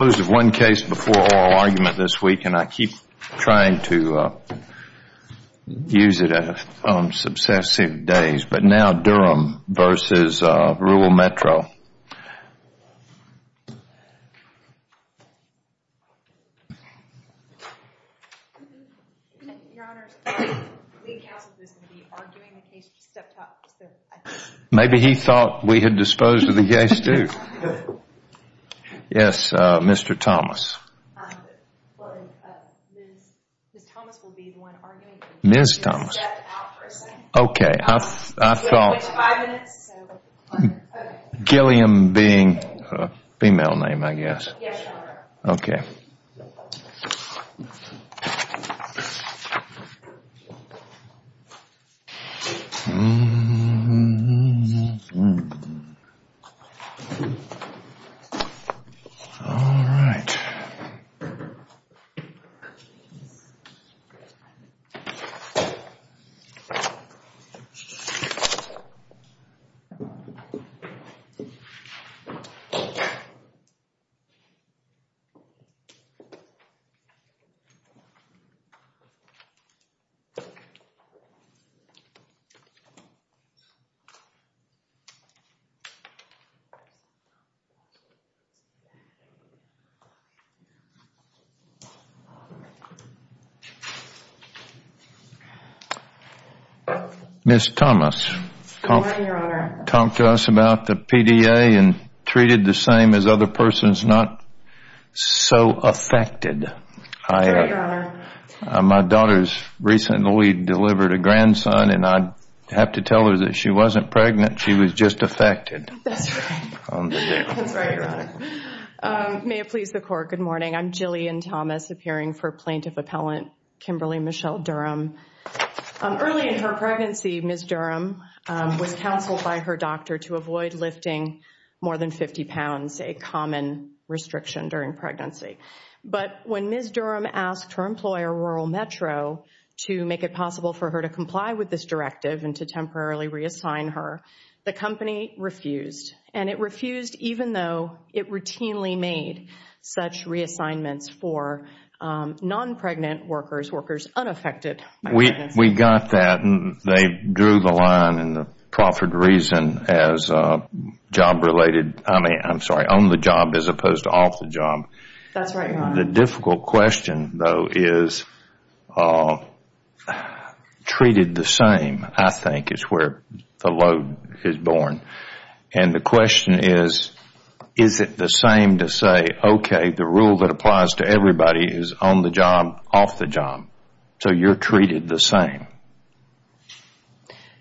I've disposed of one case before oral argument this week and I keep trying to use it on successive days. But now Durham v. Rural Metro. Maybe he thought we had disposed of the case too. Yes, Mr. Thomas. Ms. Thomas. Okay. I thought Gilliam being a female name, I guess. Okay. All right. All right. All right. All right. All right, Your Honor. Talk to us about the PDA and treated the same as other persons not so affected. All right, Your Honor. My daughter's recently delivered a grandson and I have to tell her that she wasn't pregnant. She was just affected. That's right. That's right, Your Honor. May it please the court. Good morning. I'm Gillian Thomas appearing for Plaintiff Appellant Kimberlie Michelle Durham. Early in her pregnancy, Ms. Durham was counseled by her doctor to avoid lifting more than 50 pounds, a common restriction during pregnancy. But when Ms. Durham asked her employer, Rural Metro, to make it possible for her to comply with this directive and to temporarily reassign her, the company refused. And it refused even though it routinely made such reassignments for non-pregnant workers, unaffected by pregnancy. We got that and they drew the line in the proffered reason as job-related. I mean, I'm sorry, on the job as opposed to off the job. That's right, Your Honor. The difficult question, though, is treated the same, I think, is where the load is born. And the question is, is it the same to say, okay, the rule that applies to everybody is on the job, off the job. So you're treated the same.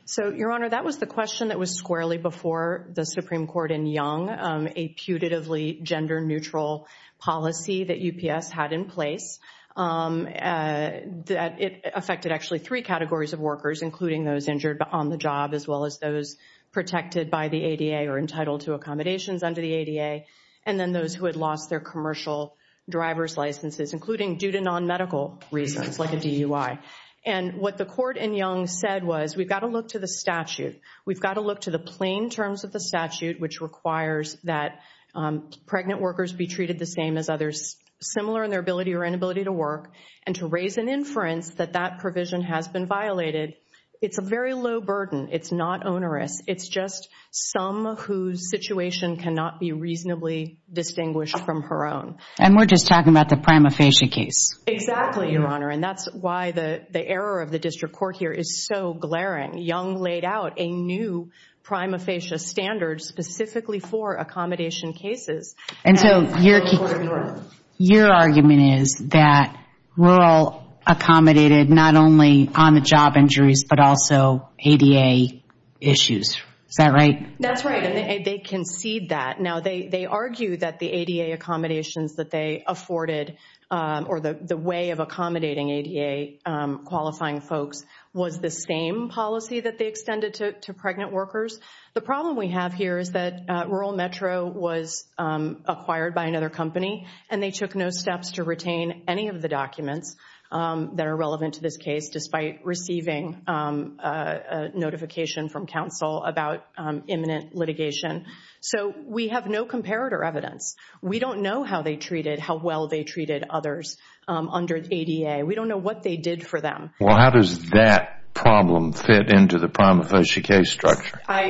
So, Your Honor, that was the question that was squarely before the Supreme Court in Young, a putatively gender-neutral policy that UPS had in place. It affected actually three categories of workers, including those injured on the job as well as those protected by the ADA or entitled to accommodations under the ADA, and then those who had lost their commercial driver's licenses, including due to non-medical reasons, like a DUI. And what the court in Young said was, we've got to look to the statute. We've got to look to the plain terms of the statute, which requires that pregnant workers be treated the same as others, similar in their ability or inability to work, and to raise an inference that that provision has been violated. It's a very low burden. It's not onerous. It's just some whose situation cannot be reasonably distinguished from her own. And we're just talking about the prima facie case. Exactly, Your Honor. And that's why the error of the district court here is so glaring. Young laid out a new prima facie standard specifically for accommodation cases. And so your argument is that rural accommodated not only on-the-job injuries but also ADA issues. Is that right? That's right. And they concede that. Now, they argue that the ADA accommodations that they afforded or the way of accommodating ADA-qualifying folks was the same policy that they extended to pregnant workers. The problem we have here is that Rural Metro was acquired by another company, and they took no steps to retain any of the documents that are relevant to this case, despite receiving a notification from counsel about imminent litigation. So we have no comparator evidence. We don't know how well they treated others under ADA. We don't know what they did for them. Well, how does that problem fit into the prima facie case structure? I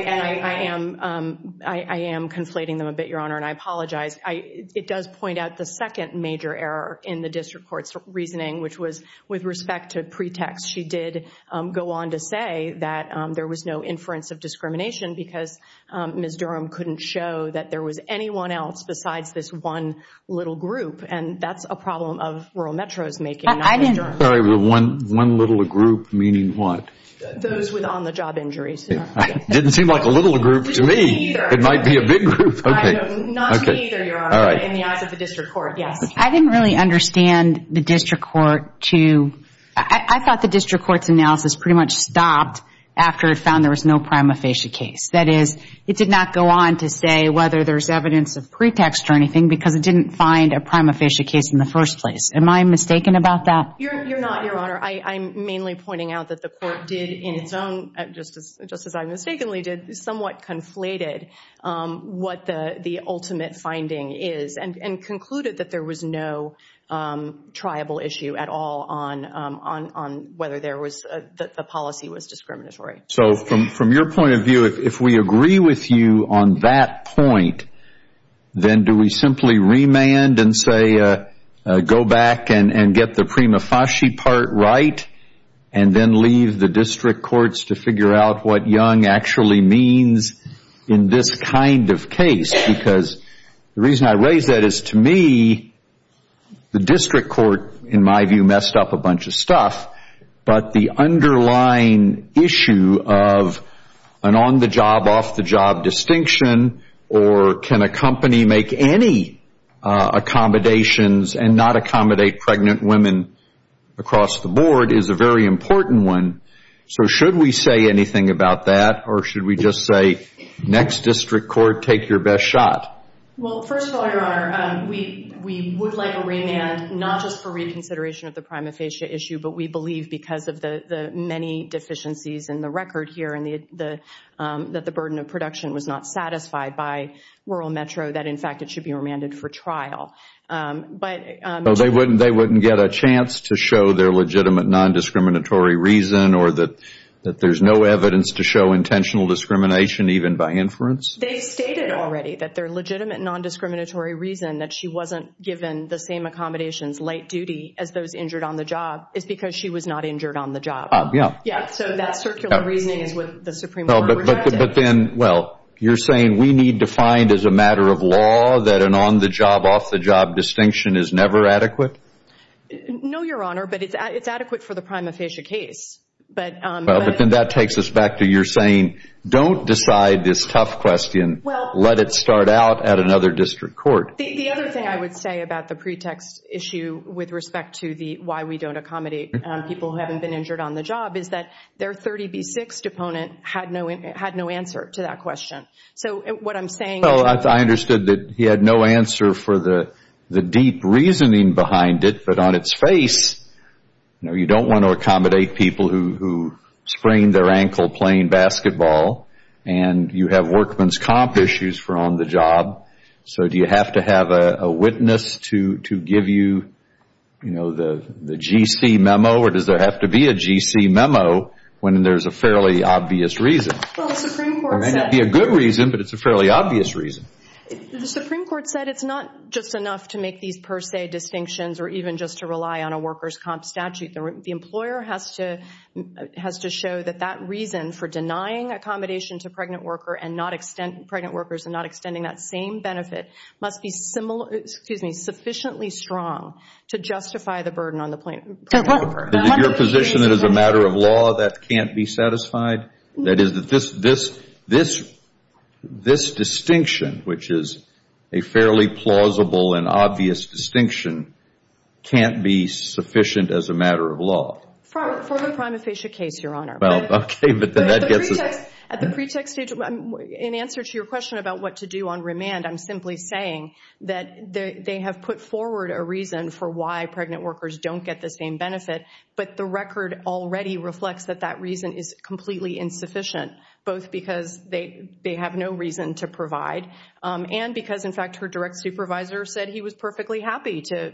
am conflating them a bit, Your Honor, and I apologize. It does point out the second major error in the district court's reasoning, which was with respect to pretext, she did go on to say that there was no inference of discrimination because Ms. Durham couldn't show that there was anyone else besides this one little group, and that's a problem of Rural Metro's making, not Ms. Durham's. One little group meaning what? Those with on-the-job injuries. Didn't seem like a little group to me. It might be a big group. Not to me either, Your Honor, but in the eyes of the district court, yes. I didn't really understand the district court to ‑‑ I thought the district court's analysis pretty much stopped after it found there was no prima facie case. That is, it did not go on to say whether there's evidence of pretext or anything because it didn't find a prima facie case in the first place. Am I mistaken about that? You're not, Your Honor. I'm mainly pointing out that the court did in its own, just as I mistakenly did, somewhat conflated what the ultimate finding is and concluded that there was no triable issue at all on whether the policy was discriminatory. So from your point of view, if we agree with you on that point, then do we simply remand and say go back and get the prima facie part right and then leave the district courts to figure out what young actually means in this kind of case? Because the reason I raise that is, to me, the district court, in my view, messed up a bunch of stuff. But the underlying issue of an on‑the‑job, off‑the‑job distinction or can a company make any accommodations and not accommodate pregnant women across the board is a very important one. So should we say anything about that or should we just say next district court, take your best shot? Well, first of all, Your Honor, we would like a remand, not just for reconsideration of the prima facie issue, but we believe because of the many deficiencies in the record here and that the burden of production was not satisfied by Rural Metro, that in fact it should be remanded for trial. So they wouldn't get a chance to show their legitimate non‑discriminatory reason or that there's no evidence to show intentional discrimination even by inference? They stated already that their legitimate non‑discriminatory reason that she wasn't given the same accommodations late duty as those injured on the job is because she was not injured on the job. Yeah, so that circular reasoning is what the Supreme Court rejected. But then, well, you're saying we need to find as a matter of law that an on‑the‑job, off‑the‑job distinction is never adequate? No, Your Honor, but it's adequate for the prima facie case. But then that takes us back to you're saying don't decide this tough question, let it start out at another district court. The other thing I would say about the pretext issue with respect to the why we don't accommodate people who haven't been injured on the job is that their 30B6 deponent had no answer to that question. So what I'm saying is— Well, I understood that he had no answer for the deep reasoning behind it, but on its face you don't want to accommodate people who sprained their ankle playing basketball and you have workman's comp issues for on the job. So do you have to have a witness to give you the GC memo or does there have to be a GC memo when there's a fairly obvious reason? Well, the Supreme Court said— It may not be a good reason, but it's a fairly obvious reason. The Supreme Court said it's not just enough to make these per se distinctions or even just to rely on a worker's comp statute. The employer has to show that that reason for denying accommodation to pregnant workers and not extending that same benefit must be sufficiently strong to justify the burden on the pregnant worker. Is it your position that as a matter of law that can't be satisfied? That is, this distinction, which is a fairly plausible and obvious distinction, can't be sufficient as a matter of law? For the prima facie case, Your Honor. Okay, but then that gets us— At the pre-tech stage, in answer to your question about what to do on remand, I'm simply saying that they have put forward a reason for why pregnant workers don't get the same benefit, but the record already reflects that that reason is completely insufficient, both because they have no reason to provide and because, in fact, her direct supervisor said he was perfectly happy to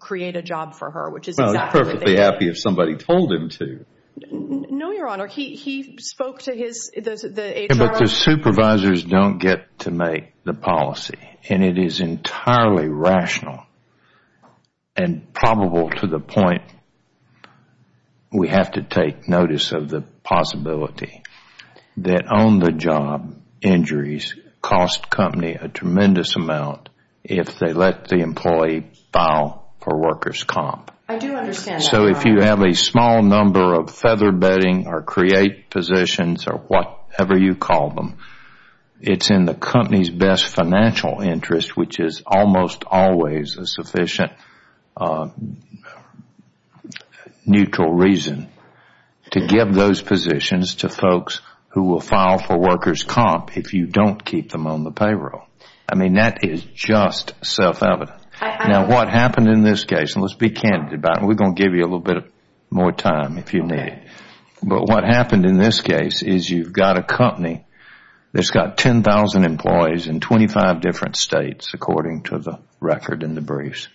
create a job for her, which is exactly what they did. Well, he's perfectly happy if somebody told him to. No, Your Honor. He spoke to his— But the supervisors don't get to make the policy, and it is entirely rational and probable to the point we have to take notice of the possibility that on-the-job injuries cost a company a tremendous amount if they let the employee file for workers' comp. I do understand that, Your Honor. So if you have a small number of featherbedding or create positions or whatever you call them, it's in the company's best financial interest, which is almost always a sufficient neutral reason to give those positions to folks who will file for workers' comp if you don't keep them on the payroll. I mean, that is just self-evident. Now, what happened in this case, and let's be candid about it, and we're going to give you a little bit more time if you need it. But what happened in this case is you've got a company that's got 10,000 employees in 25 different states according to the record in the briefs,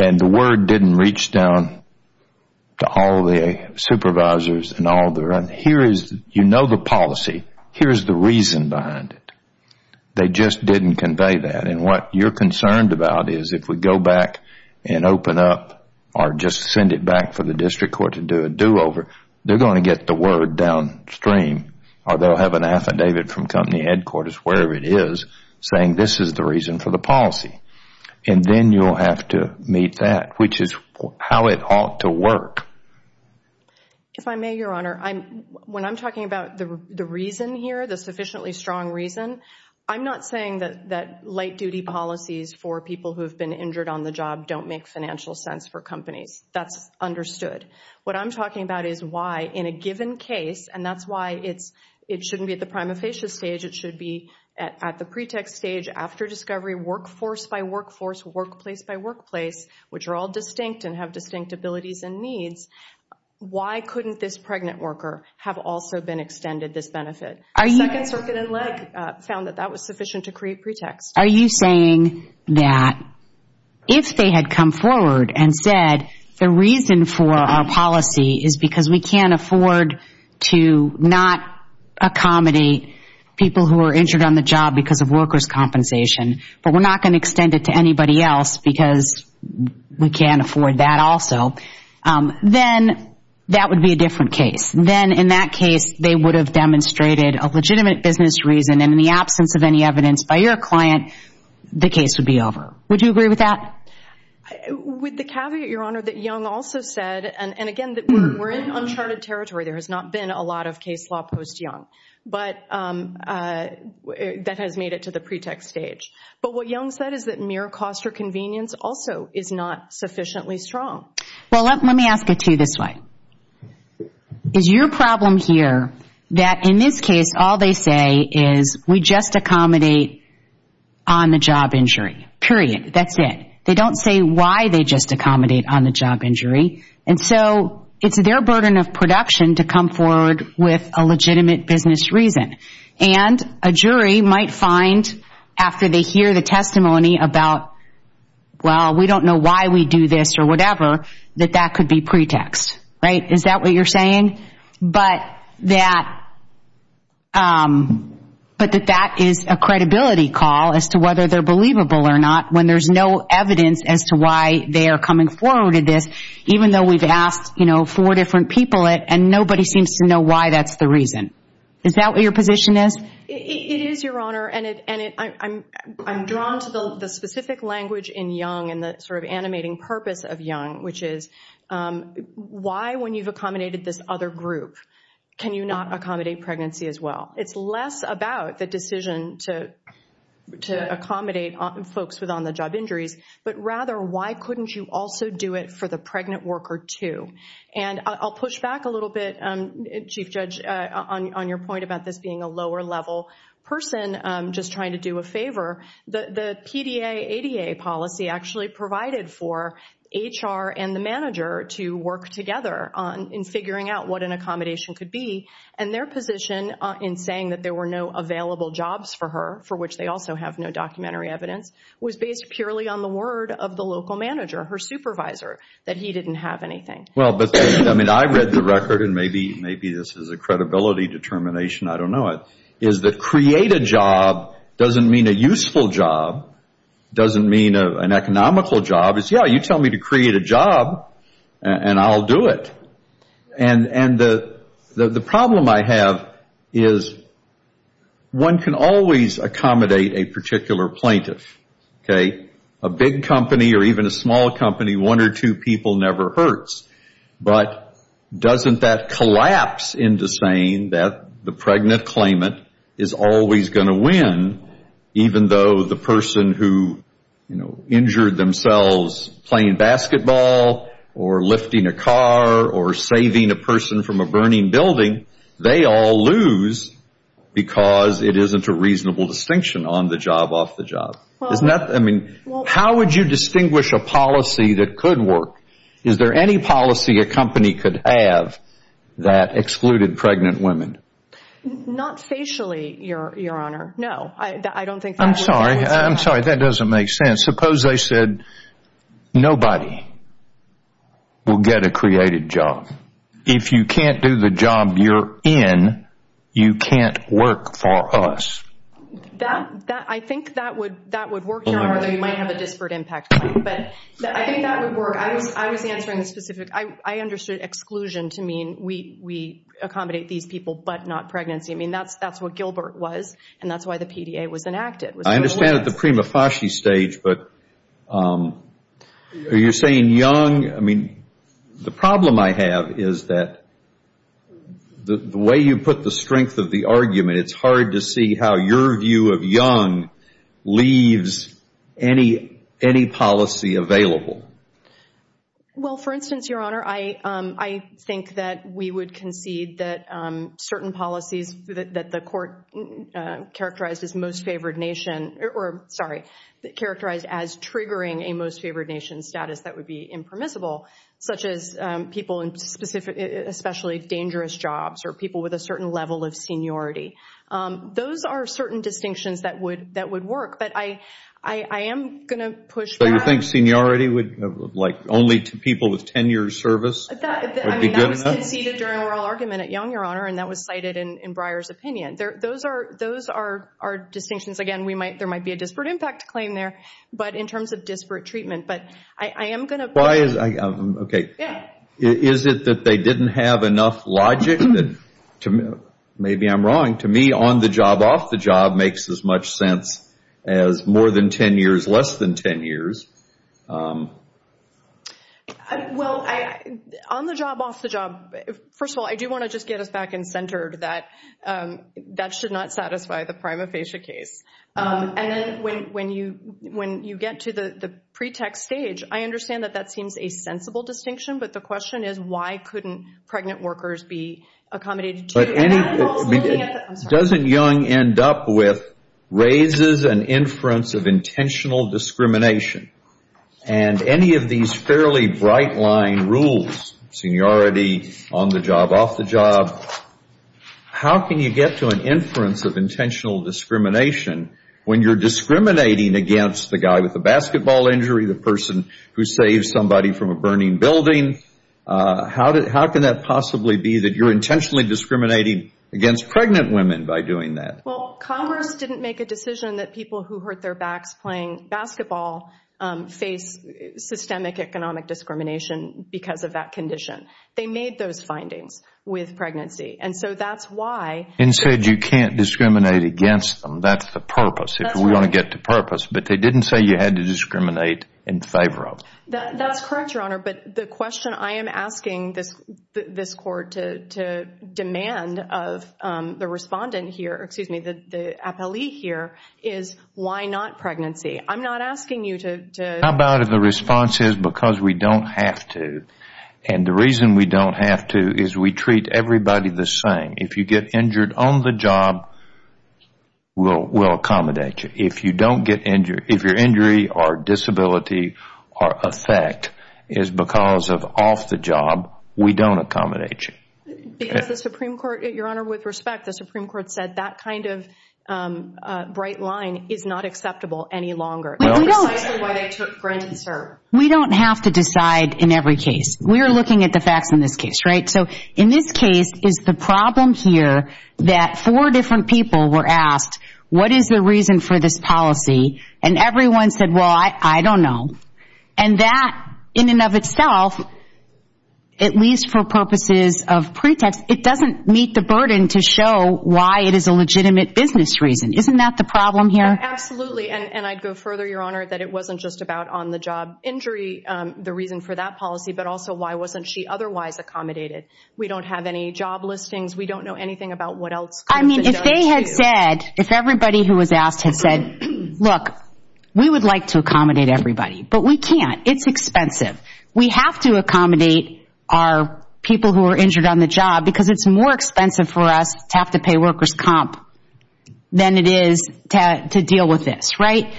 and the word didn't reach down to all the supervisors and all the rest. Here is—you know the policy. Here is the reason behind it. They just didn't convey that, and what you're concerned about is if we go back and open up or just send it back for the district court to do a do-over, they're going to get the word downstream or they'll have an affidavit from company headquarters, wherever it is, saying this is the reason for the policy. And then you'll have to meet that, which is how it ought to work. If I may, Your Honor, when I'm talking about the reason here, the sufficiently strong reason, I'm not saying that light-duty policies for people who have been injured on the job don't make financial sense for companies. That's understood. What I'm talking about is why, in a given case, and that's why it shouldn't be at the prima facie stage, it should be at the pre-tech stage, after discovery, workforce by workforce, workplace by workplace, which are all distinct and have distinct abilities and needs, why couldn't this pregnant worker have also been extended this benefit? The Second Circuit in Lake found that that was sufficient to create pretext. Are you saying that if they had come forward and said, the reason for our policy is because we can't afford to not accommodate people who are injured on the job because of workers' compensation, but we're not going to extend it to anybody else because we can't afford that also, then that would be a different case. Then, in that case, they would have demonstrated a legitimate business reason, and in the absence of any evidence by your client, the case would be over. Would you agree with that? With the caveat, Your Honor, that Young also said, and again, we're in uncharted territory. There has not been a lot of case law post-Young that has made it to the pre-tech stage. But what Young said is that mere cost or convenience also is not sufficiently strong. Well, let me ask it to you this way. Is your problem here that, in this case, all they say is, we just accommodate on-the-job injury, period? That's it. They don't say why they just accommodate on-the-job injury. And so it's their burden of production to come forward with a legitimate business reason. And a jury might find, after they hear the testimony about, well, we don't know why we do this or whatever, that that could be pretext. Right? Is that what you're saying? But that is a credibility call as to whether they're believable or not when there's no evidence as to why they are coming forward with this, even though we've asked four different people it, and nobody seems to know why that's the reason. Is that what your position is? It is, Your Honor. And I'm drawn to the specific language in Young and the sort of animating purpose of Young, which is why, when you've accommodated this other group, can you not accommodate pregnancy as well? It's less about the decision to accommodate folks with on-the-job injuries, but rather why couldn't you also do it for the pregnant worker too? And I'll push back a little bit, Chief Judge, on your point about this being a lower-level person just trying to do a favor. The PDA, ADA policy actually provided for HR and the manager to work together in figuring out what an accommodation could be. And their position in saying that there were no available jobs for her, for which they also have no documentary evidence, was based purely on the word of the local manager, her supervisor, that he didn't have anything. Well, but I read the record, and maybe this is a credibility determination, I don't know, is that create a job doesn't mean a useful job, doesn't mean an economical job. It's, yeah, you tell me to create a job, and I'll do it. And the problem I have is one can always accommodate a particular plaintiff. A big company or even a small company, one or two people never hurts. But doesn't that collapse into saying that the pregnant claimant is always going to win, even though the person who injured themselves playing basketball or lifting a car or saving a person from a burning building, they all lose because it isn't a reasonable distinction on the job, off the job. Isn't that, I mean, how would you distinguish a policy that could work? Is there any policy a company could have that excluded pregnant women? Not facially, Your Honor, no. I'm sorry, I'm sorry, that doesn't make sense. Suppose I said nobody will get a created job. If you can't do the job you're in, you can't work for us. I think that would work, Your Honor, although you might have a disparate impact claim. But I think that would work. I was answering the specific, I understood exclusion to mean we accommodate these people but not pregnancy. I mean, that's what Gilbert was, and that's why the PDA was enacted. I understand at the prima facie stage, but are you saying young? I mean, the problem I have is that the way you put the strength of the argument, it's hard to see how your view of young leaves any policy available. Well, for instance, Your Honor, I think that we would concede that certain policies that the court characterized as triggering a most favored nation status that would be impermissible, such as people in especially dangerous jobs or people with a certain level of seniority, those are certain distinctions that would work. But I am going to push back. So you think seniority would, like only to people with 10 years' service would be good enough? I mean, that was conceded during oral argument at young, Your Honor, and that was cited in Breyer's opinion. Those are distinctions. Again, there might be a disparate impact claim there, but in terms of disparate treatment. But I am going to push back. Okay. Is it that they didn't have enough logic? Maybe I'm wrong. To me, on the job, off the job makes as much sense as more than 10 years, less than 10 years. Well, on the job, off the job, first of all, I do want to just get us back in center that that should not satisfy the prima facie case. And then when you get to the pretext stage, I understand that that seems a sensible distinction, but the question is why couldn't pregnant workers be accommodated to. But doesn't young end up with raises and inference of intentional discrimination? And any of these fairly bright-line rules, seniority, on the job, off the job, how can you get to an inference of intentional discrimination when you're discriminating against the guy with the basketball injury, the person who saved somebody from a burning building? How can that possibly be that you're intentionally discriminating against pregnant women by doing that? Well, Congress didn't make a decision that people who hurt their backs playing basketball face systemic economic discrimination because of that condition. They made those findings with pregnancy. And so that's why. And said you can't discriminate against them. That's the purpose. That's right. If we want to get to purpose. But they didn't say you had to discriminate in favor of. That's correct, Your Honor. But the question I am asking this court to demand of the respondent here, excuse me, the appellee here, is why not pregnancy? I'm not asking you to. How about if the response is because we don't have to, and the reason we don't have to is we treat everybody the same. If you get injured on the job, we'll accommodate you. If your injury or disability or effect is because of off the job, we don't accommodate you. Because the Supreme Court, Your Honor, with respect, the Supreme Court said that kind of bright line is not acceptable any longer. That's precisely why they took Grant and Serve. We don't have to decide in every case. We are looking at the facts in this case, right? So in this case, is the problem here that four different people were asked, what is the reason for this policy? And everyone said, well, I don't know. And that in and of itself, at least for purposes of pretext, it doesn't meet the burden to show why it is a legitimate business reason. Isn't that the problem here? Absolutely. And I'd go further, Your Honor, that it wasn't just about on-the-job injury, the reason for that policy, but also why wasn't she otherwise accommodated? We don't have any job listings. We don't know anything about what else could have been done to you. I mean, if they had said, if everybody who was asked had said, look, we would like to accommodate everybody, but we can't. It's expensive. We have to accommodate our people who are injured on the job because it's more expensive for us to have to pay workers' comp than it is to deal with this, right?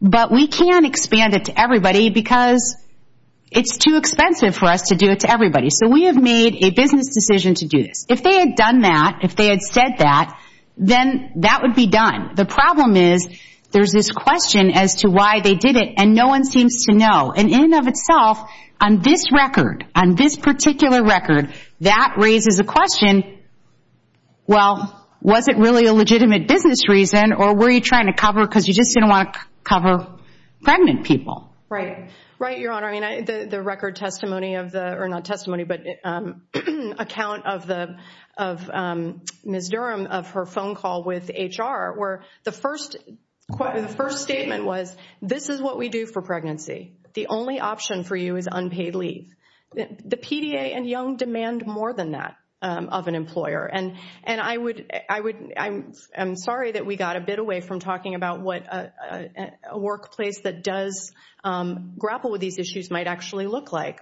But we can't expand it to everybody because it's too expensive for us to do it to everybody. So we have made a business decision to do this. If they had done that, if they had said that, then that would be done. The problem is there's this question as to why they did it, and no one seems to know. And in and of itself, on this record, on this particular record, that raises a question, well, was it really a legitimate business reason or were you trying to cover because you just didn't want to cover pregnant people? Right. Right, Your Honor. I mean, the record testimony, or not testimony, but account of Ms. Durham of her phone call with HR where the first statement was, this is what we do for pregnancy. The only option for you is unpaid leave. The PDA and Young demand more than that of an employer. I'm sorry that we got a bit away from talking about what a workplace that does grapple with these issues might actually look like.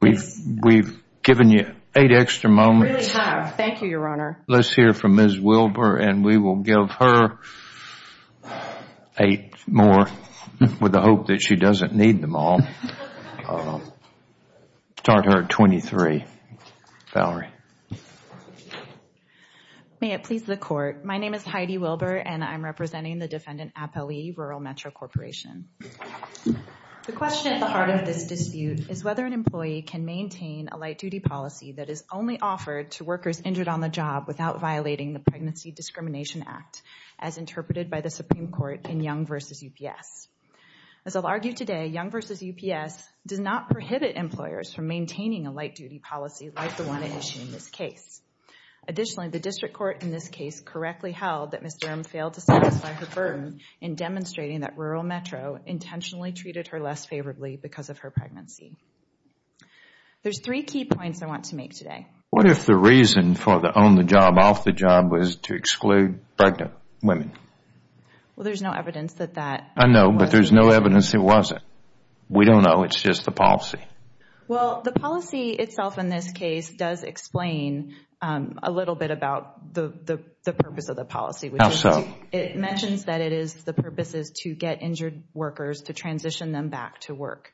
We've given you eight extra moments. We really have. Thank you, Your Honor. Let's hear from Ms. Wilber, and we will give her eight more with the hope that she doesn't need them all. I'll start her at 23. Valerie. May it please the Court. My name is Heidi Wilber, and I'm representing the defendant, Appali, Rural Metro Corporation. The question at the heart of this dispute is whether an employee can maintain a light-duty policy that is only offered to workers injured on the job without violating the Pregnancy Discrimination Act, as interpreted by the Supreme Court in Young v. UPS. As I'll argue today, Young v. UPS does not prohibit employers from maintaining a light-duty policy like the one at issue in this case. Additionally, the district court in this case correctly held that Ms. Durham failed to satisfy her burden in demonstrating that Rural Metro intentionally treated her less favorably because of her pregnancy. There's three key points I want to make today. What if the reason for the on-the-job, off-the-job was to exclude pregnant women? Well, there's no evidence that that was the case. I know, but there's no evidence it wasn't. We don't know. It's just the policy. Well, the policy itself in this case does explain a little bit about the purpose of the policy. How so? It mentions that it is the purpose is to get injured workers to transition them back to work.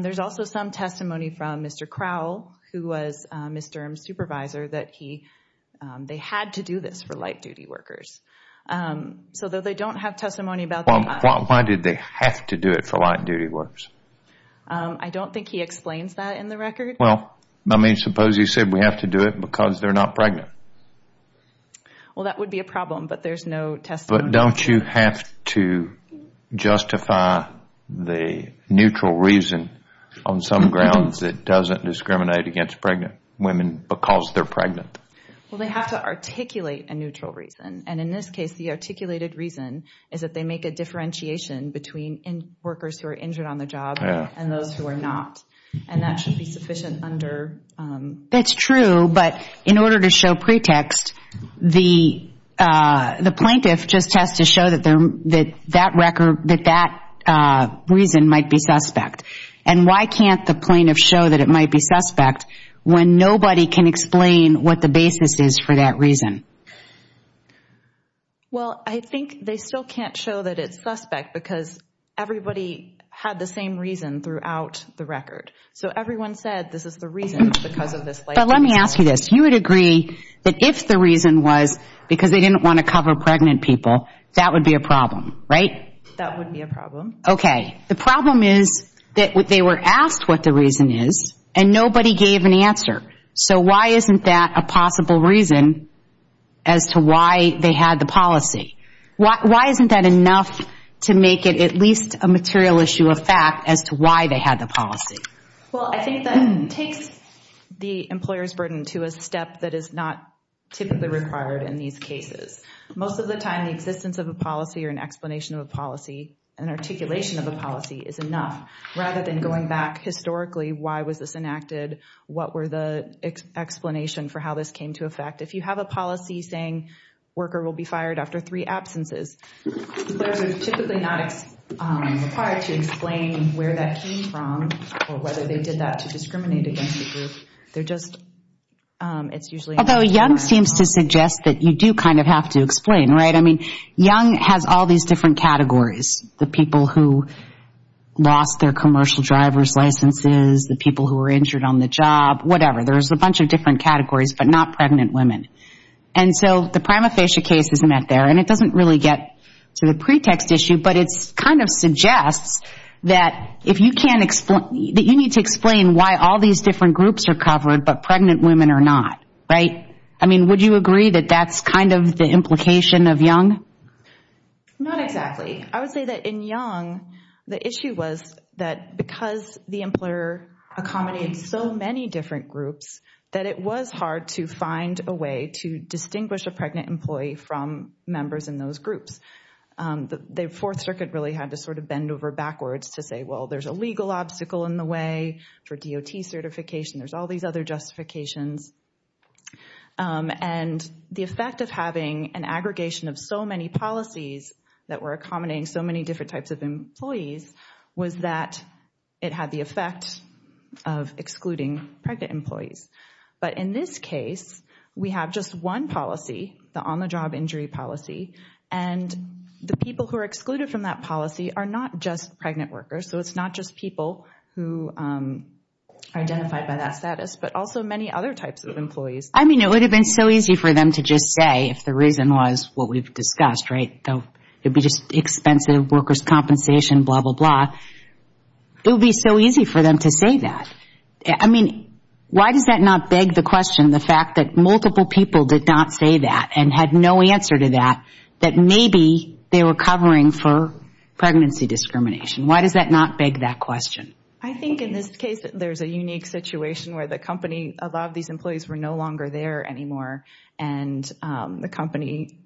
There's also some testimony from Mr. Crowell, who was Ms. Durham's supervisor, that they had to do this for light-duty workers. So they don't have testimony about that. Why did they have to do it for light-duty workers? I don't think he explains that in the record. Well, I mean, suppose he said we have to do it because they're not pregnant. Well, that would be a problem, but there's no testimony. But don't you have to justify the neutral reason on some grounds that doesn't discriminate against pregnant women because they're pregnant? Well, they have to articulate a neutral reason. And in this case, the articulated reason is that they make a differentiation between workers who are injured on the job and those who are not. And that should be sufficient under— That's true, but in order to show pretext, the plaintiff just has to show that that reason might be suspect. And why can't the plaintiff show that it might be suspect when nobody can explain what the basis is for that reason? Well, I think they still can't show that it's suspect because everybody had the same reason throughout the record. So everyone said this is the reason because of this light-duty work. But let me ask you this. You would agree that if the reason was because they didn't want to cover pregnant people, that would be a problem, right? That would be a problem. Okay. The problem is that they were asked what the reason is and nobody gave an answer. So why isn't that a possible reason as to why they had the policy? Why isn't that enough to make it at least a material issue of fact as to why they had the policy? Well, I think that takes the employer's burden to a step that is not typically required in these cases. Most of the time, the existence of a policy or an explanation of a policy and articulation of a policy is enough rather than going back historically. Why was this enacted? What were the explanations for how this came to affect? If you have a policy saying a worker will be fired after three absences, employers are typically not required to explain where that came from or whether they did that to discriminate against the group. They're just, it's usually not required. Although Young seems to suggest that you do kind of have to explain, right? I mean, Young has all these different categories, the people who lost their commercial driver's licenses, the people who were injured on the job, whatever. There's a bunch of different categories, but not pregnant women. And so the prima facie case is met there. And it doesn't really get to the pretext issue, but it kind of suggests that if you can't explain, that you need to explain why all these different groups are covered, but pregnant women are not, right? I mean, would you agree that that's kind of the implication of Young? Not exactly. I would say that in Young, the issue was that because the employer accommodates so many different groups, that it was hard to find a way to distinguish a pregnant employee from members in those groups. The Fourth Circuit really had to sort of bend over backwards to say, well, there's a legal obstacle in the way for DOT certification. There's all these other justifications. And the effect of having an aggregation of so many policies that were accommodating so many different types of employees was that it had the effect of excluding pregnant employees. But in this case, we have just one policy, the on-the-job injury policy, and the people who are excluded from that policy are not just pregnant workers, so it's not just people who are identified by that status, but also many other types of employees. I mean, it would have been so easy for them to just say, if the reason was what we've discussed, right? It would be just expensive workers' compensation, blah, blah, blah. It would be so easy for them to say that. I mean, why does that not beg the question, the fact that multiple people did not say that and had no answer to that, that maybe they were covering for pregnancy discrimination? Why does that not beg that question? I think in this case, there's a unique situation where the company, a lot of these employees were no longer there anymore, and the company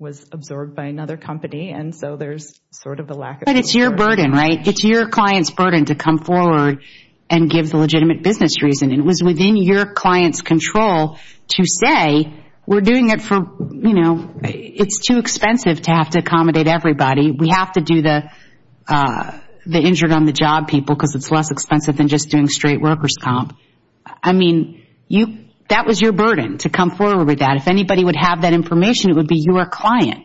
was absorbed by another company, and so there's sort of a lack of support. But it's your burden, right? It's your client's burden to come forward and give the legitimate business reason. It was within your client's control to say, we're doing it for, you know, it's too expensive to have to accommodate everybody. We have to do the injured on the job people because it's less expensive than just doing straight workers' comp. I mean, that was your burden to come forward with that. If anybody would have that information, it would be your client.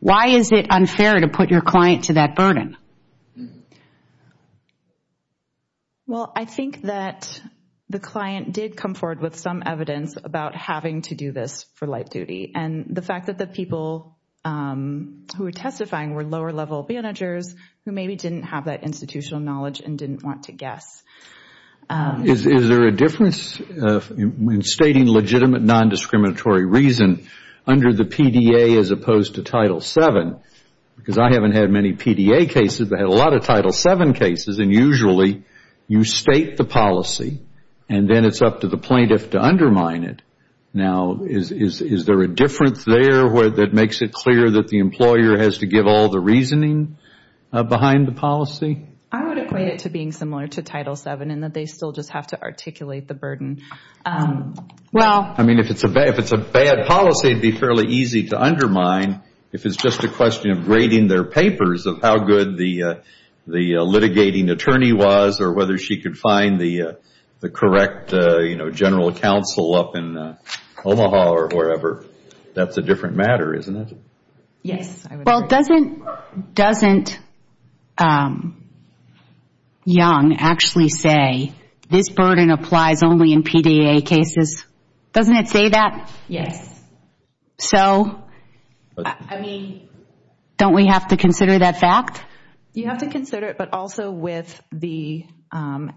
Why is it unfair to put your client to that burden? Well, I think that the client did come forward with some evidence about having to do this for light duty, and the fact that the people who were testifying were lower-level managers who maybe didn't have that institutional knowledge and didn't want to guess. Is there a difference in stating legitimate nondiscriminatory reason under the PDA as opposed to Title VII? Because I haven't had many PDA cases. I've had a lot of Title VII cases, and usually you state the policy, and then it's up to the plaintiff to undermine it. Now, is there a difference there that makes it clear that the employer has to give all the reasoning behind the policy? I would equate it to being similar to Title VII in that they still just have to articulate the burden. I mean, if it's a bad policy, it would be fairly easy to undermine if it's just a question of grading their papers of how good the litigating attorney was or whether she could find the correct general counsel up in Omaha or wherever. That's a different matter, isn't it? Yes. Well, doesn't Young actually say this burden applies only in PDA cases? Doesn't it say that? Yes. So, don't we have to consider that fact? You have to consider it, but also with the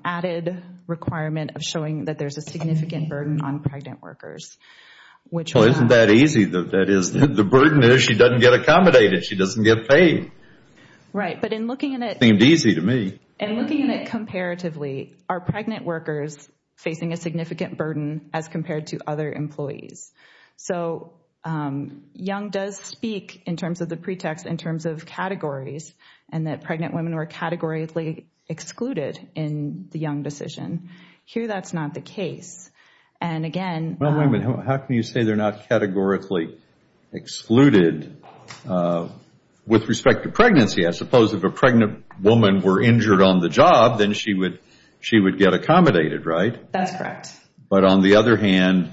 added requirement of showing that there's a significant burden on pregnant workers. Well, isn't that easy? The burden is she doesn't get accommodated. She doesn't get paid. Right, but in looking at it comparatively, are pregnant workers facing a significant burden as compared to other employees? So, Young does speak in terms of the pretext in terms of categories and that pregnant women were categorically excluded in the Young decision. Here, that's not the case. And again— Well, wait a minute. How can you say they're not categorically excluded? With respect to pregnancy, I suppose if a pregnant woman were injured on the job, then she would get accommodated, right? That's correct. But on the other hand,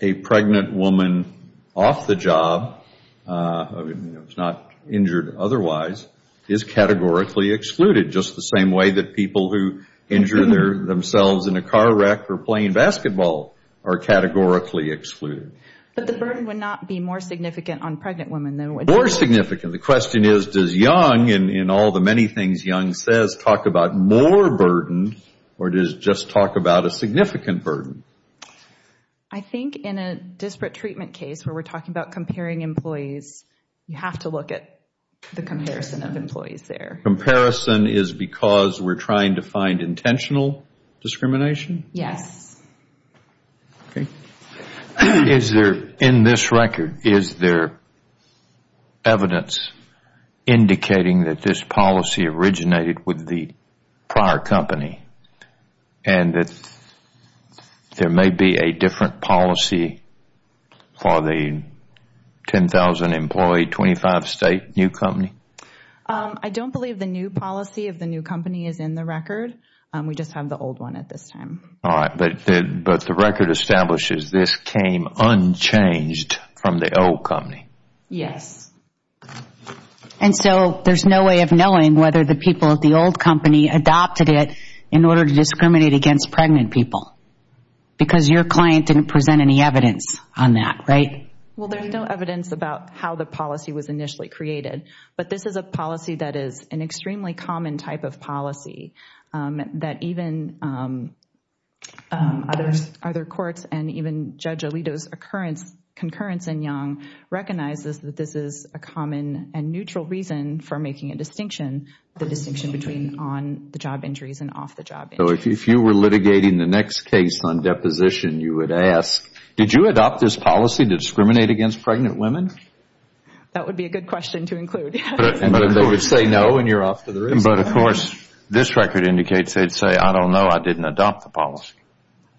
a pregnant woman off the job, if not injured otherwise, is categorically excluded, just the same way that people who injure themselves in a car wreck or playing basketball are categorically excluded. But the burden would not be more significant on pregnant women. More significant. The question is, does Young, in all the many things Young says, just talk about more burden or does it just talk about a significant burden? I think in a disparate treatment case where we're talking about comparing employees, you have to look at the comparison of employees there. Comparison is because we're trying to find intentional discrimination? Yes. In this record, is there evidence indicating that this policy originated with the prior company and that there may be a different policy for the 10,000-employee, 25-state new company? I don't believe the new policy of the new company is in the record. We just have the old one at this time. All right. But the record establishes this came unchanged from the old company? Yes. And so there's no way of knowing whether the people at the old company adopted it in order to discriminate against pregnant people because your client didn't present any evidence on that, right? Well, there's no evidence about how the policy was initially created, but this is a policy that is an extremely common type of policy that even other courts and even Judge Alito's concurrence in Young recognizes that this is a common and neutral reason for making a distinction, the distinction between on-the-job injuries and off-the-job injuries. So if you were litigating the next case on deposition, you would ask, did you adopt this policy to discriminate against pregnant women? That would be a good question to include. But, of course, this record indicates they'd say, I don't know, I didn't adopt the policy.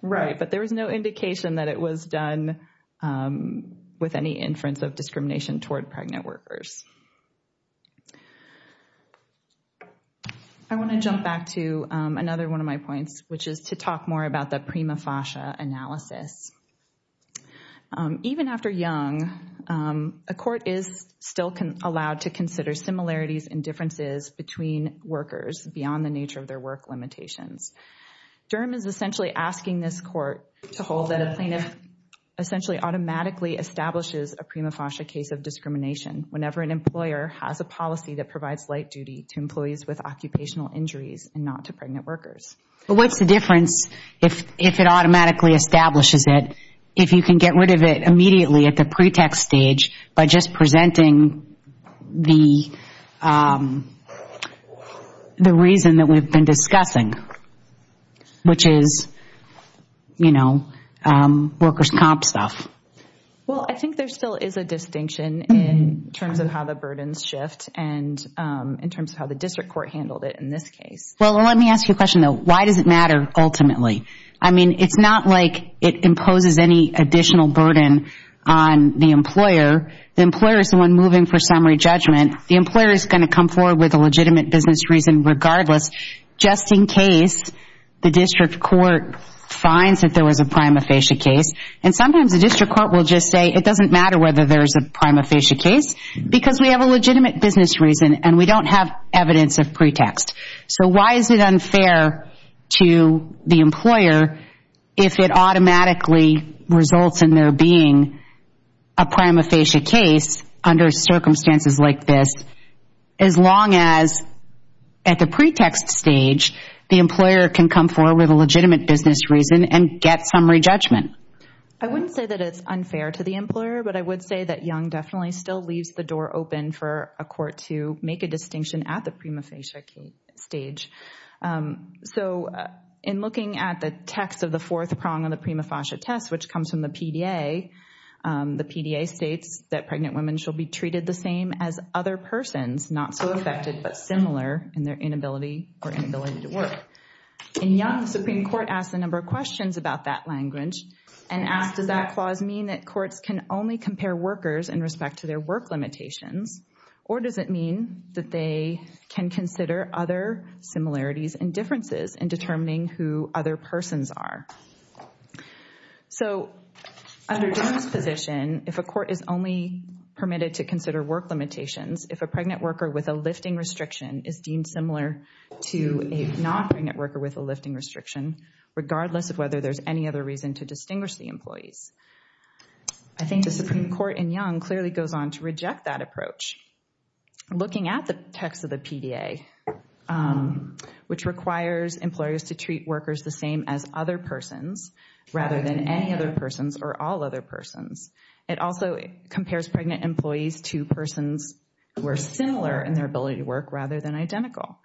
Right, but there was no indication that it was done with any inference of discrimination toward pregnant workers. I want to jump back to another one of my points, which is to talk more about the prima facie analysis. Even after Young, a court is still allowed to consider similarities and differences between workers beyond the nature of their work limitations. Durham is essentially asking this court to hold that a plaintiff essentially automatically establishes a prima facie case of discrimination whenever an employer has a policy that provides light duty to employees with occupational injuries and not to pregnant workers. But what's the difference if it automatically establishes it, if you can get rid of it immediately at the pretext stage by just presenting the reason that we've been discussing, which is workers' comp stuff? Well, I think there still is a distinction in terms of how the burdens shift and in terms of how the district court handled it in this case. Well, let me ask you a question, though. Why does it matter ultimately? I mean, it's not like it imposes any additional burden on the employer. The employer is the one moving for summary judgment. The employer is going to come forward with a legitimate business reason regardless just in case the district court finds that there was a prima facie case. And sometimes the district court will just say, it doesn't matter whether there is a prima facie case because we have a legitimate business reason and we don't have evidence of pretext. So why is it unfair to the employer if it automatically results in there being a prima facie case under circumstances like this as long as at the pretext stage the employer can come forward with a legitimate business reason and get summary judgment? I wouldn't say that it's unfair to the employer, but I would say that Young definitely still leaves the door open for a court to make a distinction at the prima facie stage. So in looking at the text of the fourth prong of the prima facie test, which comes from the PDA, the PDA states that pregnant women shall be treated the same as other persons, not so affected but similar in their inability or inability to work. In Young, the Supreme Court asked a number of questions about that language and asked does that clause mean that courts can only compare workers in respect to their work limitations, or does it mean that they can consider other similarities and differences in determining who other persons are? So under Young's position, if a court is only permitted to consider work limitations, if a pregnant worker with a lifting restriction is deemed similar to a non-pregnant worker with a lifting restriction, regardless of whether there's any other reason to distinguish the employees, I think the Supreme Court in Young clearly goes on to reject that approach. Looking at the text of the PDA, which requires employers to treat workers the same as other persons rather than any other persons or all other persons, it also compares pregnant employees to persons who are similar in their ability to work rather than identical.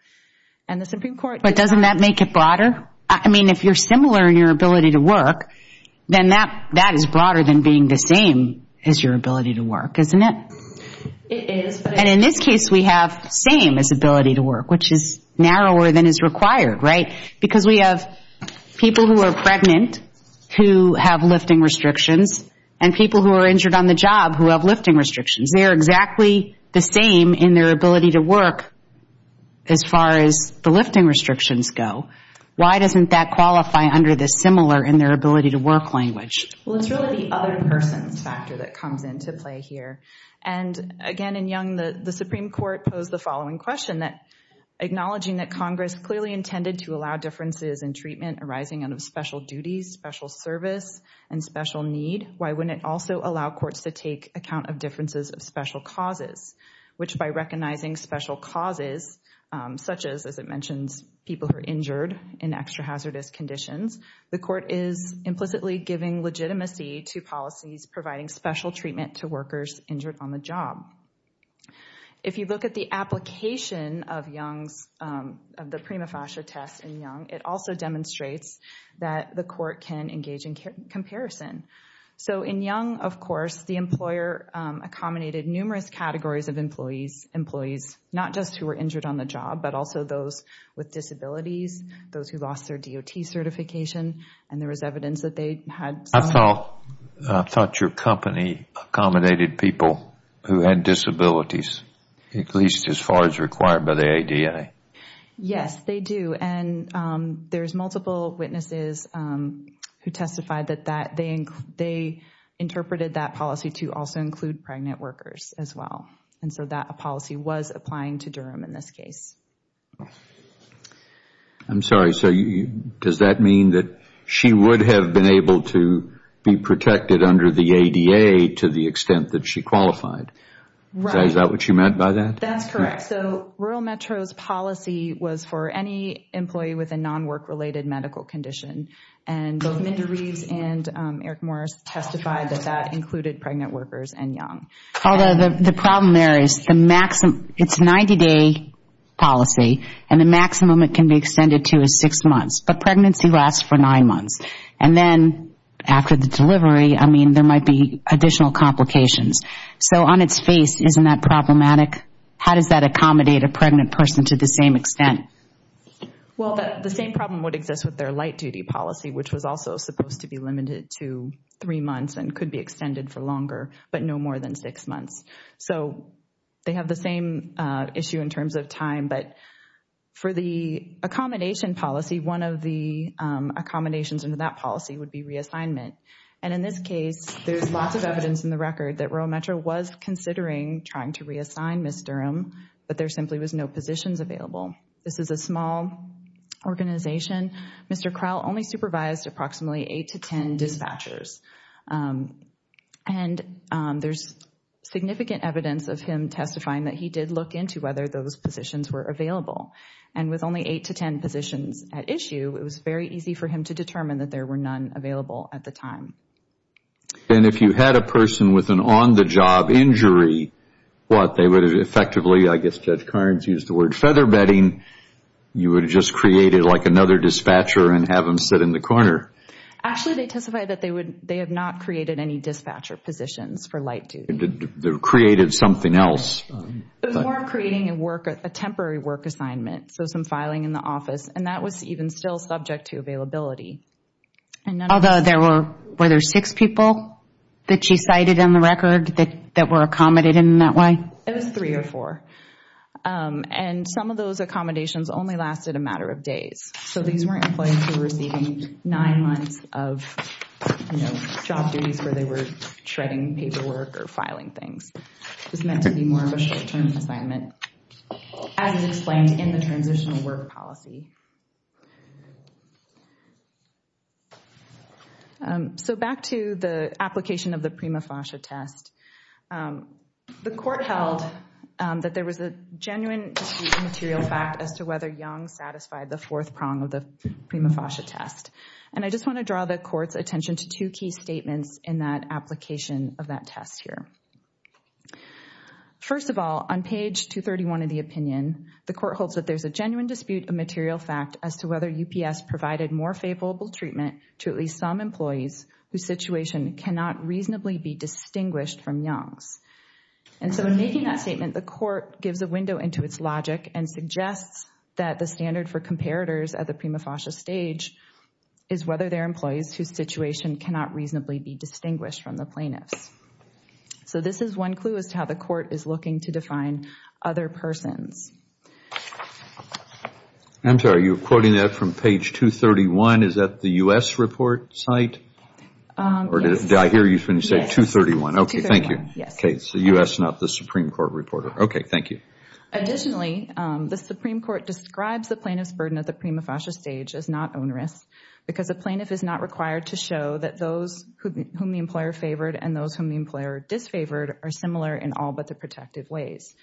And the Supreme Court- But doesn't that make it broader? I mean, if you're similar in your ability to work, then that is broader than being the same as your ability to work, isn't it? It is, but- And in this case, we have same as ability to work, which is narrower than is required, right? Because we have people who are pregnant who have lifting restrictions and people who are injured on the job who have lifting restrictions. They are exactly the same in their ability to work as far as the lifting restrictions go. Why doesn't that qualify under the similar in their ability to work language? Well, it's really the other person factor that comes into play here. And again, in Young, the Supreme Court posed the following question, acknowledging that Congress clearly intended to allow differences in treatment arising out of special duties, special service, and special need. Why wouldn't it also allow courts to take account of differences of special causes, which by recognizing special causes, such as, as it mentions, people who are injured in extra-hazardous conditions, the court is implicitly giving legitimacy to policies providing special treatment to workers injured on the job. If you look at the application of Young's, of the prima facie test in Young, it also demonstrates that the court can engage in comparison. So in Young, of course, the employer accommodated numerous categories of employees, not just who were injured on the job, but also those with disabilities, those who lost their DOT certification, and there was evidence that they had some. I thought your company accommodated people who had disabilities, at least as far as required by the ADA. Yes, they do. And there's multiple witnesses who testified that they interpreted that policy to also include pregnant workers as well. And so that policy was applying to Durham in this case. I'm sorry. So does that mean that she would have been able to be protected under the ADA to the extent that she qualified? Right. Is that what you meant by that? That's correct. So Rural Metro's policy was for any employee with a non-work-related medical condition, and both Mindy Reeves and Eric Morris testified that that included pregnant workers and Young. Although the problem there is it's a 90-day policy, and the maximum it can be extended to is six months. But pregnancy lasts for nine months. And then after the delivery, I mean, there might be additional complications. So on its face, isn't that problematic? How does that accommodate a pregnant person to the same extent? Well, the same problem would exist with their light-duty policy, which was also supposed to be limited to three months and could be extended for longer, but no more than six months. So they have the same issue in terms of time. But for the accommodation policy, one of the accommodations in that policy would be reassignment. And in this case, there's lots of evidence in the record that Rural Metro was considering trying to reassign Ms. Durham, but there simply was no positions available. This is a small organization. Mr. Crowell only supervised approximately eight to ten dispatchers. And there's significant evidence of him testifying that he did look into whether those positions were available. And with only eight to ten positions at issue, it was very easy for him to determine that there were none available at the time. And if you had a person with an on-the-job injury, what, they would have effectively, I guess Judge Carnes used the word feather bedding, you would have just created like another dispatcher and have them sit in the corner. Actually, they testified that they had not created any dispatcher positions for light duty. They created something else. It was more of creating a temporary work assignment, so some filing in the office. And that was even still subject to availability. Although, were there six people that she cited in the record that were accommodated in that way? It was three or four. And some of those accommodations only lasted a matter of days. So these weren't employees who were receiving nine months of, you know, job duties where they were shredding paperwork or filing things. It was meant to be more of a short-term assignment, as is explained in the transitional work policy. So back to the application of the prima facie test. The court held that there was a genuine dispute of material fact as to whether Young satisfied the fourth prong of the prima facie test. And I just want to draw the court's attention to two key statements in that application of that test here. First of all, on page 231 of the opinion, the court holds that there's a genuine dispute of material fact as to whether UPS provided more favorable treatment to at least some employees whose situation cannot reasonably be distinguished from Young's. And so in making that statement, the court gives a window into its logic and suggests that the standard for comparators at the prima facie stage is whether they're employees whose situation cannot reasonably be distinguished from the plaintiffs. So this is one clue as to how the court is looking to define other persons. I'm sorry, you're quoting that from page 231. Is that the U.S. report site? Yes. Or did I hear you when you said 231? Yes, 231. Okay, thank you. Yes. Okay, so U.S., not the Supreme Court reporter. Okay, thank you. Additionally, the Supreme Court describes the plaintiff's burden at the prima facie stage as not onerous because the plaintiff is not required to show that those whom the employer favored and those whom the employer disfavored are similar in all but the protective ways.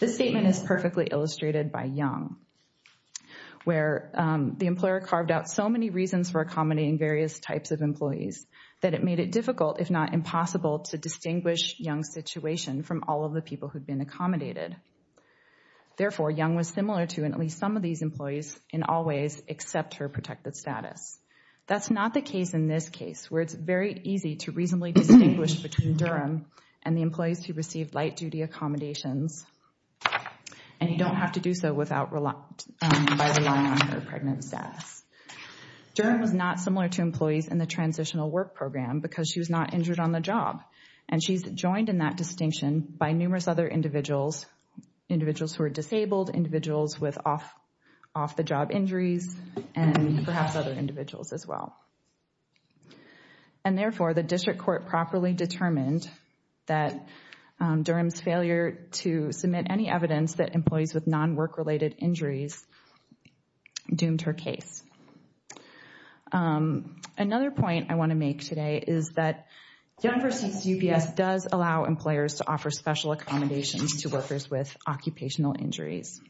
This statement is perfectly illustrated by Young, where the employer carved out so many reasons for accommodating various types of employees that it made it difficult, if not impossible, to distinguish Young's situation from all of the people who'd been accommodated. Therefore, Young was similar to at least some of these employees in all ways except her protected status. That's not the case in this case, where it's very easy to reasonably distinguish between Durham and the employees who received light-duty accommodations, and you don't have to do so by relying on their pregnant status. Durham was not similar to employees in the transitional work program because she was not injured on the job, and she's joined in that distinction by numerous other individuals, individuals who are disabled, individuals with off-the-job injuries, and perhaps other individuals as well. And therefore, the district court properly determined that Durham's failure to submit any evidence that employees with non-work-related injuries doomed her case. Another point I want to make today is that Young versus UPS does allow employers to offer special accommodations to workers with occupational injuries.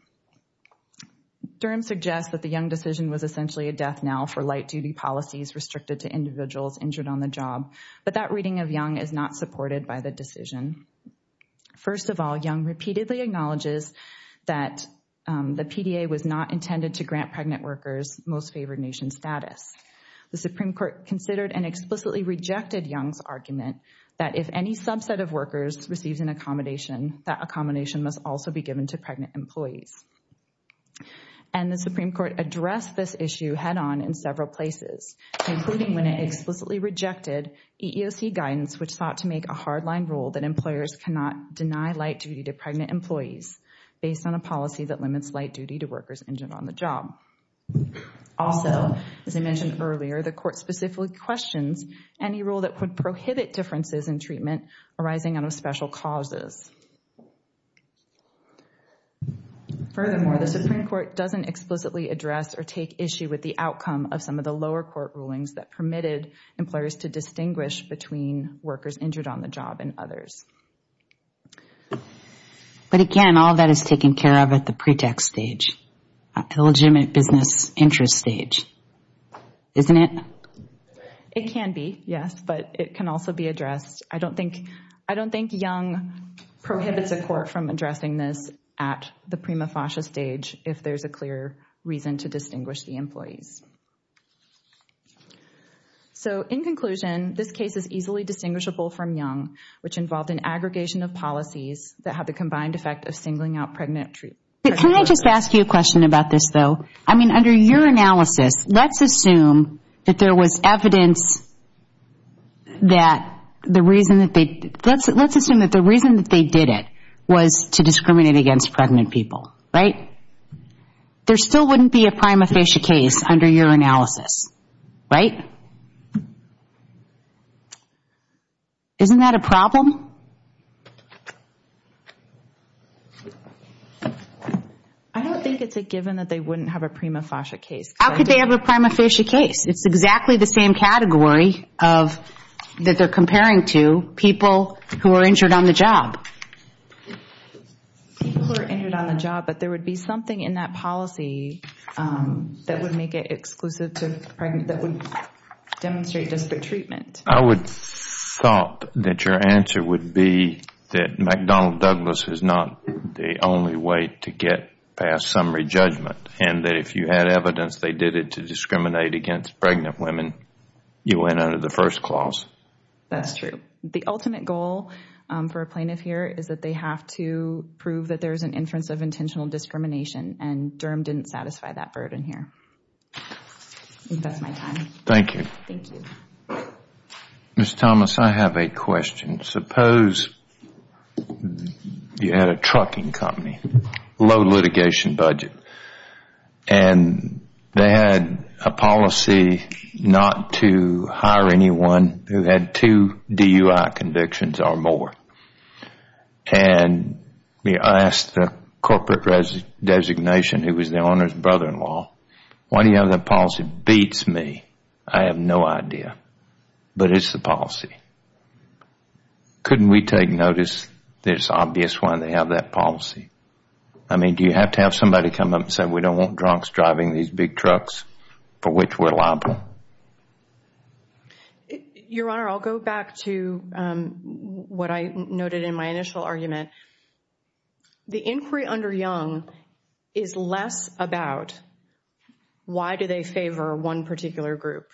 Durham suggests that the Young decision was essentially a death knell for light-duty policies restricted to individuals injured on the job, but that reading of Young is not supported by the decision. First of all, Young repeatedly acknowledges that the PDA was not intended to grant pregnant workers most favored nation status. The Supreme Court considered and explicitly rejected Young's argument that if any subset of workers receives an accommodation, that accommodation must also be given to pregnant employees. And the Supreme Court addressed this issue head-on in several places, including when it explicitly rejected EEOC guidance which sought to make a hard-line rule that employers cannot deny light-duty to pregnant employees based on a policy that limits light-duty to workers injured on the job. Also, as I mentioned earlier, the court specifically questions any rule that would prohibit differences in treatment arising out of special causes. Furthermore, the Supreme Court doesn't explicitly address or take issue with the outcome of some of the lower court rulings that permitted employers to distinguish between workers injured on the job and others. But again, all that is taken care of at the pretext stage, the legitimate business interest stage, isn't it? It can be, yes, but it can also be addressed. I don't think Young prohibits a court from addressing this at the prima facie stage if there's a clear reason to distinguish the employees. So in conclusion, this case is easily distinguishable from Young, which involved an aggregation of policies that have the combined effect of singling out pregnant workers. Can I just ask you a question about this, though? I mean, under your analysis, let's assume that there was evidence that the reason that they did it was to discriminate against pregnant people, right? There still wouldn't be a prima facie case under your analysis, right? Isn't that a problem? I don't think it's a given that they wouldn't have a prima facie case. How could they have a prima facie case? It's exactly the same category that they're comparing to people who are injured on the job. People who are injured on the job, but there would be something in that policy that would make it exclusive to pregnant, that would demonstrate disparate treatment. I would thought that your answer would be that McDonnell Douglas is not the only way to get past summary judgment, and that if you had evidence they did it to discriminate against pregnant women, you went under the first clause. That's true. The ultimate goal for a plaintiff here is that they have to prove that there's an inference of intentional discrimination, and Durham didn't satisfy that burden here. I think that's my time. Thank you. Thank you. Ms. Thomas, I have a question. Suppose you had a trucking company, low litigation budget, and they had a policy not to hire anyone who had two DUI convictions or more. And I asked the corporate designation, who was the owner's brother-in-law, why do you have that policy? Beats me. I have no idea, but it's the policy. Couldn't we take notice that it's obvious why they have that policy? I mean, do you have to have somebody come up and say, we don't want drunks driving these big trucks, for which we're liable? Your Honor, I'll go back to what I noted in my initial argument. The inquiry under Young is less about why do they favor one particular group.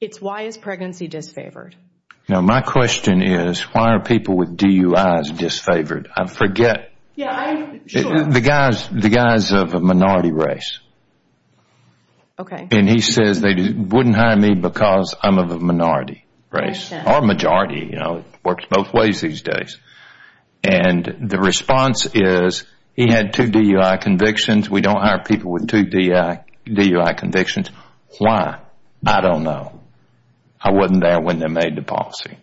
It's why is pregnancy disfavored? My question is, why are people with DUIs disfavored? I forget. The guy's of a minority race. Okay. And he says they wouldn't hire me because I'm of a minority race, or majority. It works both ways these days. And the response is, he had two DUI convictions. We don't hire people with two DUI convictions. Why? I don't know. I wasn't there when they made the policy.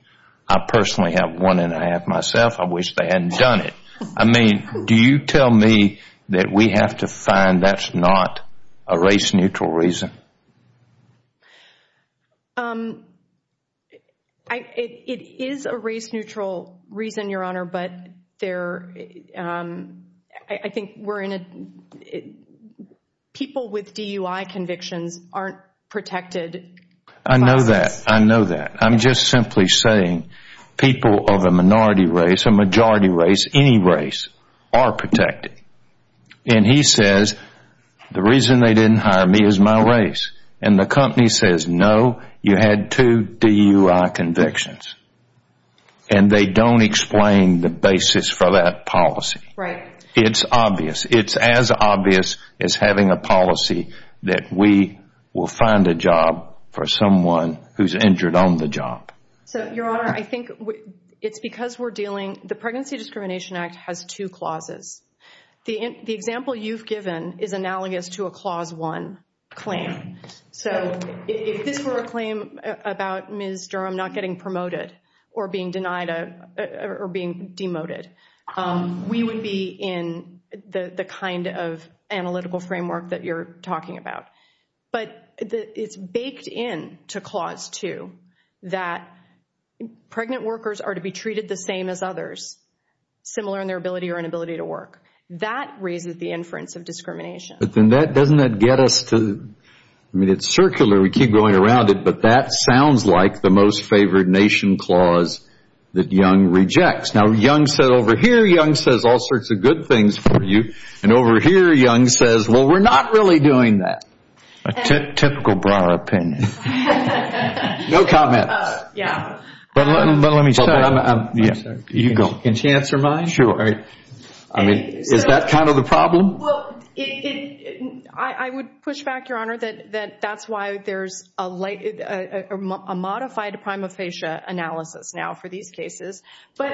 I personally have one and a half myself. I wish they hadn't done it. I mean, do you tell me that we have to find that's not a race-neutral reason? It is a race-neutral reason, Your Honor, but I think people with DUI convictions aren't protected by us. I know that. I know that. I'm just simply saying people of a minority race, a majority race, any race, are protected. And he says, the reason they didn't hire me is my race. And the company says, no, you had two DUI convictions. And they don't explain the basis for that policy. Right. It's obvious. It's as obvious as having a policy that we will find a job for someone who's injured on the job. So, Your Honor, I think it's because we're dealing—the Pregnancy Discrimination Act has two clauses. The example you've given is analogous to a Clause 1 claim. So, if this were a claim about Ms. Durham not getting promoted or being denied or being demoted, we would be in the kind of analytical framework that you're talking about. But it's baked into Clause 2 that pregnant workers are to be treated the same as others, similar in their ability or inability to work. That raises the inference of discrimination. But then that—doesn't that get us to—I mean, it's circular. We keep going around it. But that sounds like the most favored nation clause that Young rejects. Now, Young said over here, Young says all sorts of good things for you. And over here, Young says, well, we're not really doing that. A typical broad opinion. No comments. Yeah. But let me start. I'm sorry. You go. Can she answer mine? Sure. I mean, is that kind of the problem? Well, I would push back, Your Honor, that that's why there's a modified prima facie analysis now for these cases. But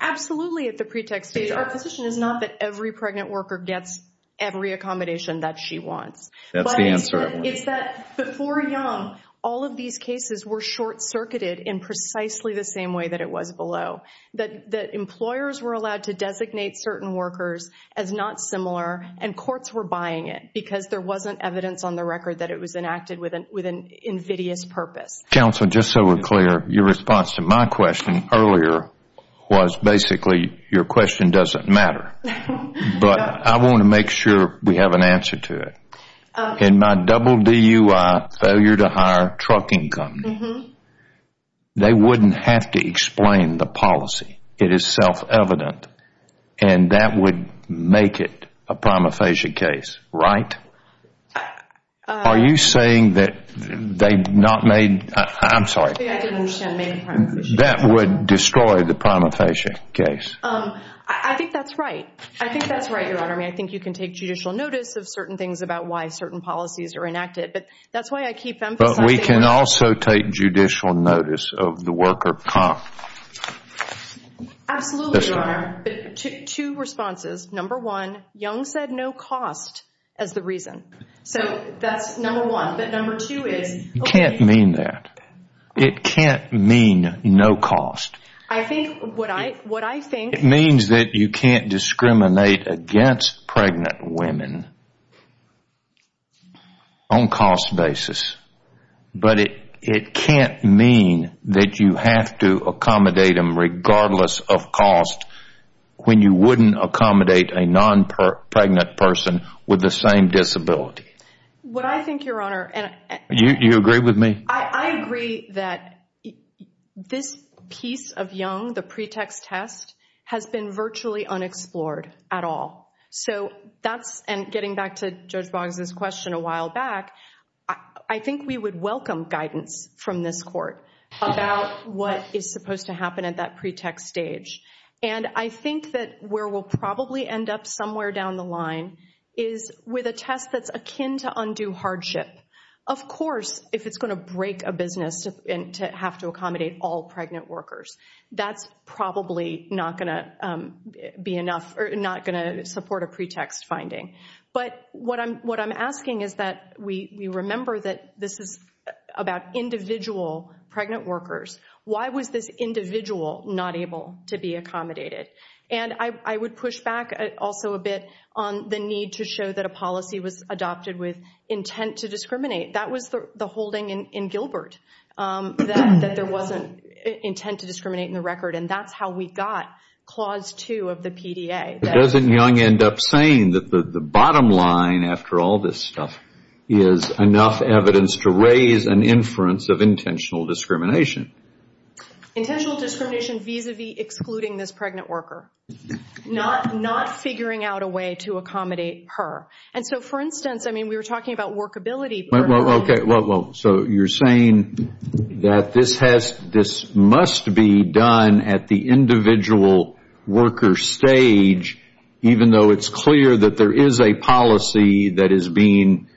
absolutely at the pretext stage, our position is not that every pregnant worker gets every accommodation that she wants. That's the answer. But it's that before Young, all of these cases were short-circuited in precisely the same way that it was below. That employers were allowed to designate certain workers as not similar and courts were buying it because there wasn't evidence on the record that it was enacted with an invidious purpose. Counsel, just so we're clear, your response to my question earlier was basically your question doesn't matter. But I want to make sure we have an answer to it. In my double DUI failure to hire trucking company, they wouldn't have to explain the policy. It is self-evident. And that would make it a prima facie case, right? Are you saying that they've not made – I'm sorry. I didn't understand. That would destroy the prima facie case. I think that's right. I think that's right, Your Honor. I mean, I think you can take judicial notice of certain things about why certain policies are enacted. But that's why I keep emphasizing – Absolutely, Your Honor. Two responses. Number one, Young said no cost as the reason. So that's number one. But number two is – You can't mean that. It can't mean no cost. I think what I think – It means that you can't discriminate against pregnant women on cost basis. But it can't mean that you have to accommodate them regardless of cost when you wouldn't accommodate a non-pregnant person with the same disability. What I think, Your Honor – Do you agree with me? I agree that this piece of Young, the pretext test, has been virtually unexplored at all. And getting back to Judge Boggs' question a while back, I think we would welcome guidance from this court about what is supposed to happen at that pretext stage. And I think that where we'll probably end up somewhere down the line is with a test that's akin to undue hardship. Of course, if it's going to break a business to have to accommodate all pregnant workers, that's probably not going to support a pretext finding. But what I'm asking is that we remember that this is about individual pregnant workers. Why was this individual not able to be accommodated? And I would push back also a bit on the need to show that a policy was adopted with intent to discriminate. That was the holding in Gilbert, that there wasn't intent to discriminate in the record. And that's how we got Clause 2 of the PDA. Doesn't Young end up saying that the bottom line, after all this stuff, is enough evidence to raise an inference of intentional discrimination? Intentional discrimination vis-a-vis excluding this pregnant worker. Not figuring out a way to accommodate her. And so, for instance, I mean, we were talking about workability. Okay, well, so you're saying that this must be done at the individual worker stage, even though it's clear that there is a policy that is being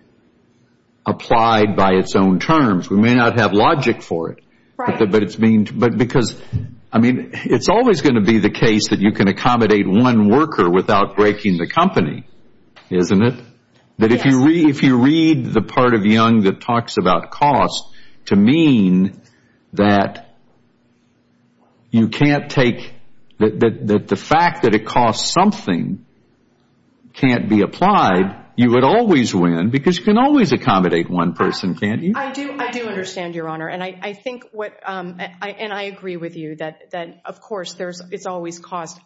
applied by its own terms. We may not have logic for it. But because, I mean, it's always going to be the case that you can accommodate one worker without breaking the company, isn't it? That if you read the part of Young that talks about cost to mean that you can't take, that the fact that it costs something can't be applied, you would always win. Because you can always accommodate one person, can't you? I do understand, Your Honor, and I agree with you that, of course, it's always cost.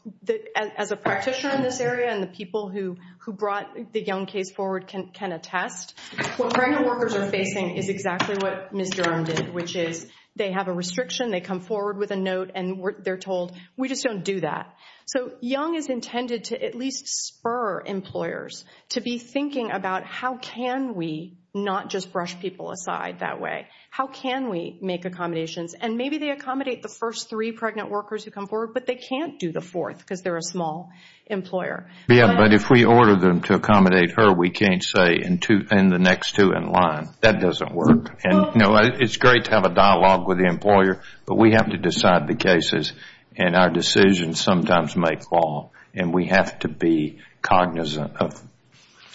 As a practitioner in this area and the people who brought the Young case forward can attest, what pregnant workers are facing is exactly what Ms. Durham did, which is they have a restriction, they come forward with a note, and they're told, we just don't do that. So Young is intended to at least spur employers to be thinking about how can we not just brush people aside that way. How can we make accommodations? And maybe they accommodate the first three pregnant workers who come forward, but they can't do the fourth because they're a small employer. But if we order them to accommodate her, we can't say, and the next two in line. That doesn't work. It's great to have a dialogue with the employer, but we have to decide the cases. And our decisions sometimes make law. And we have to be cognizant of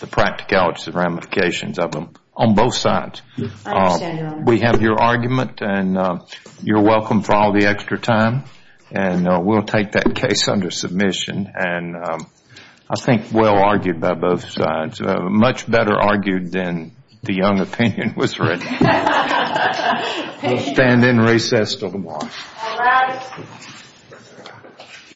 the practicalities and ramifications of them on both sides. I understand, Your Honor. We have your argument, and you're welcome for all the extra time. And we'll take that case under submission. And I think well argued by both sides. Much better argued than the Young opinion was written. We'll stand in recess until tomorrow. All rise.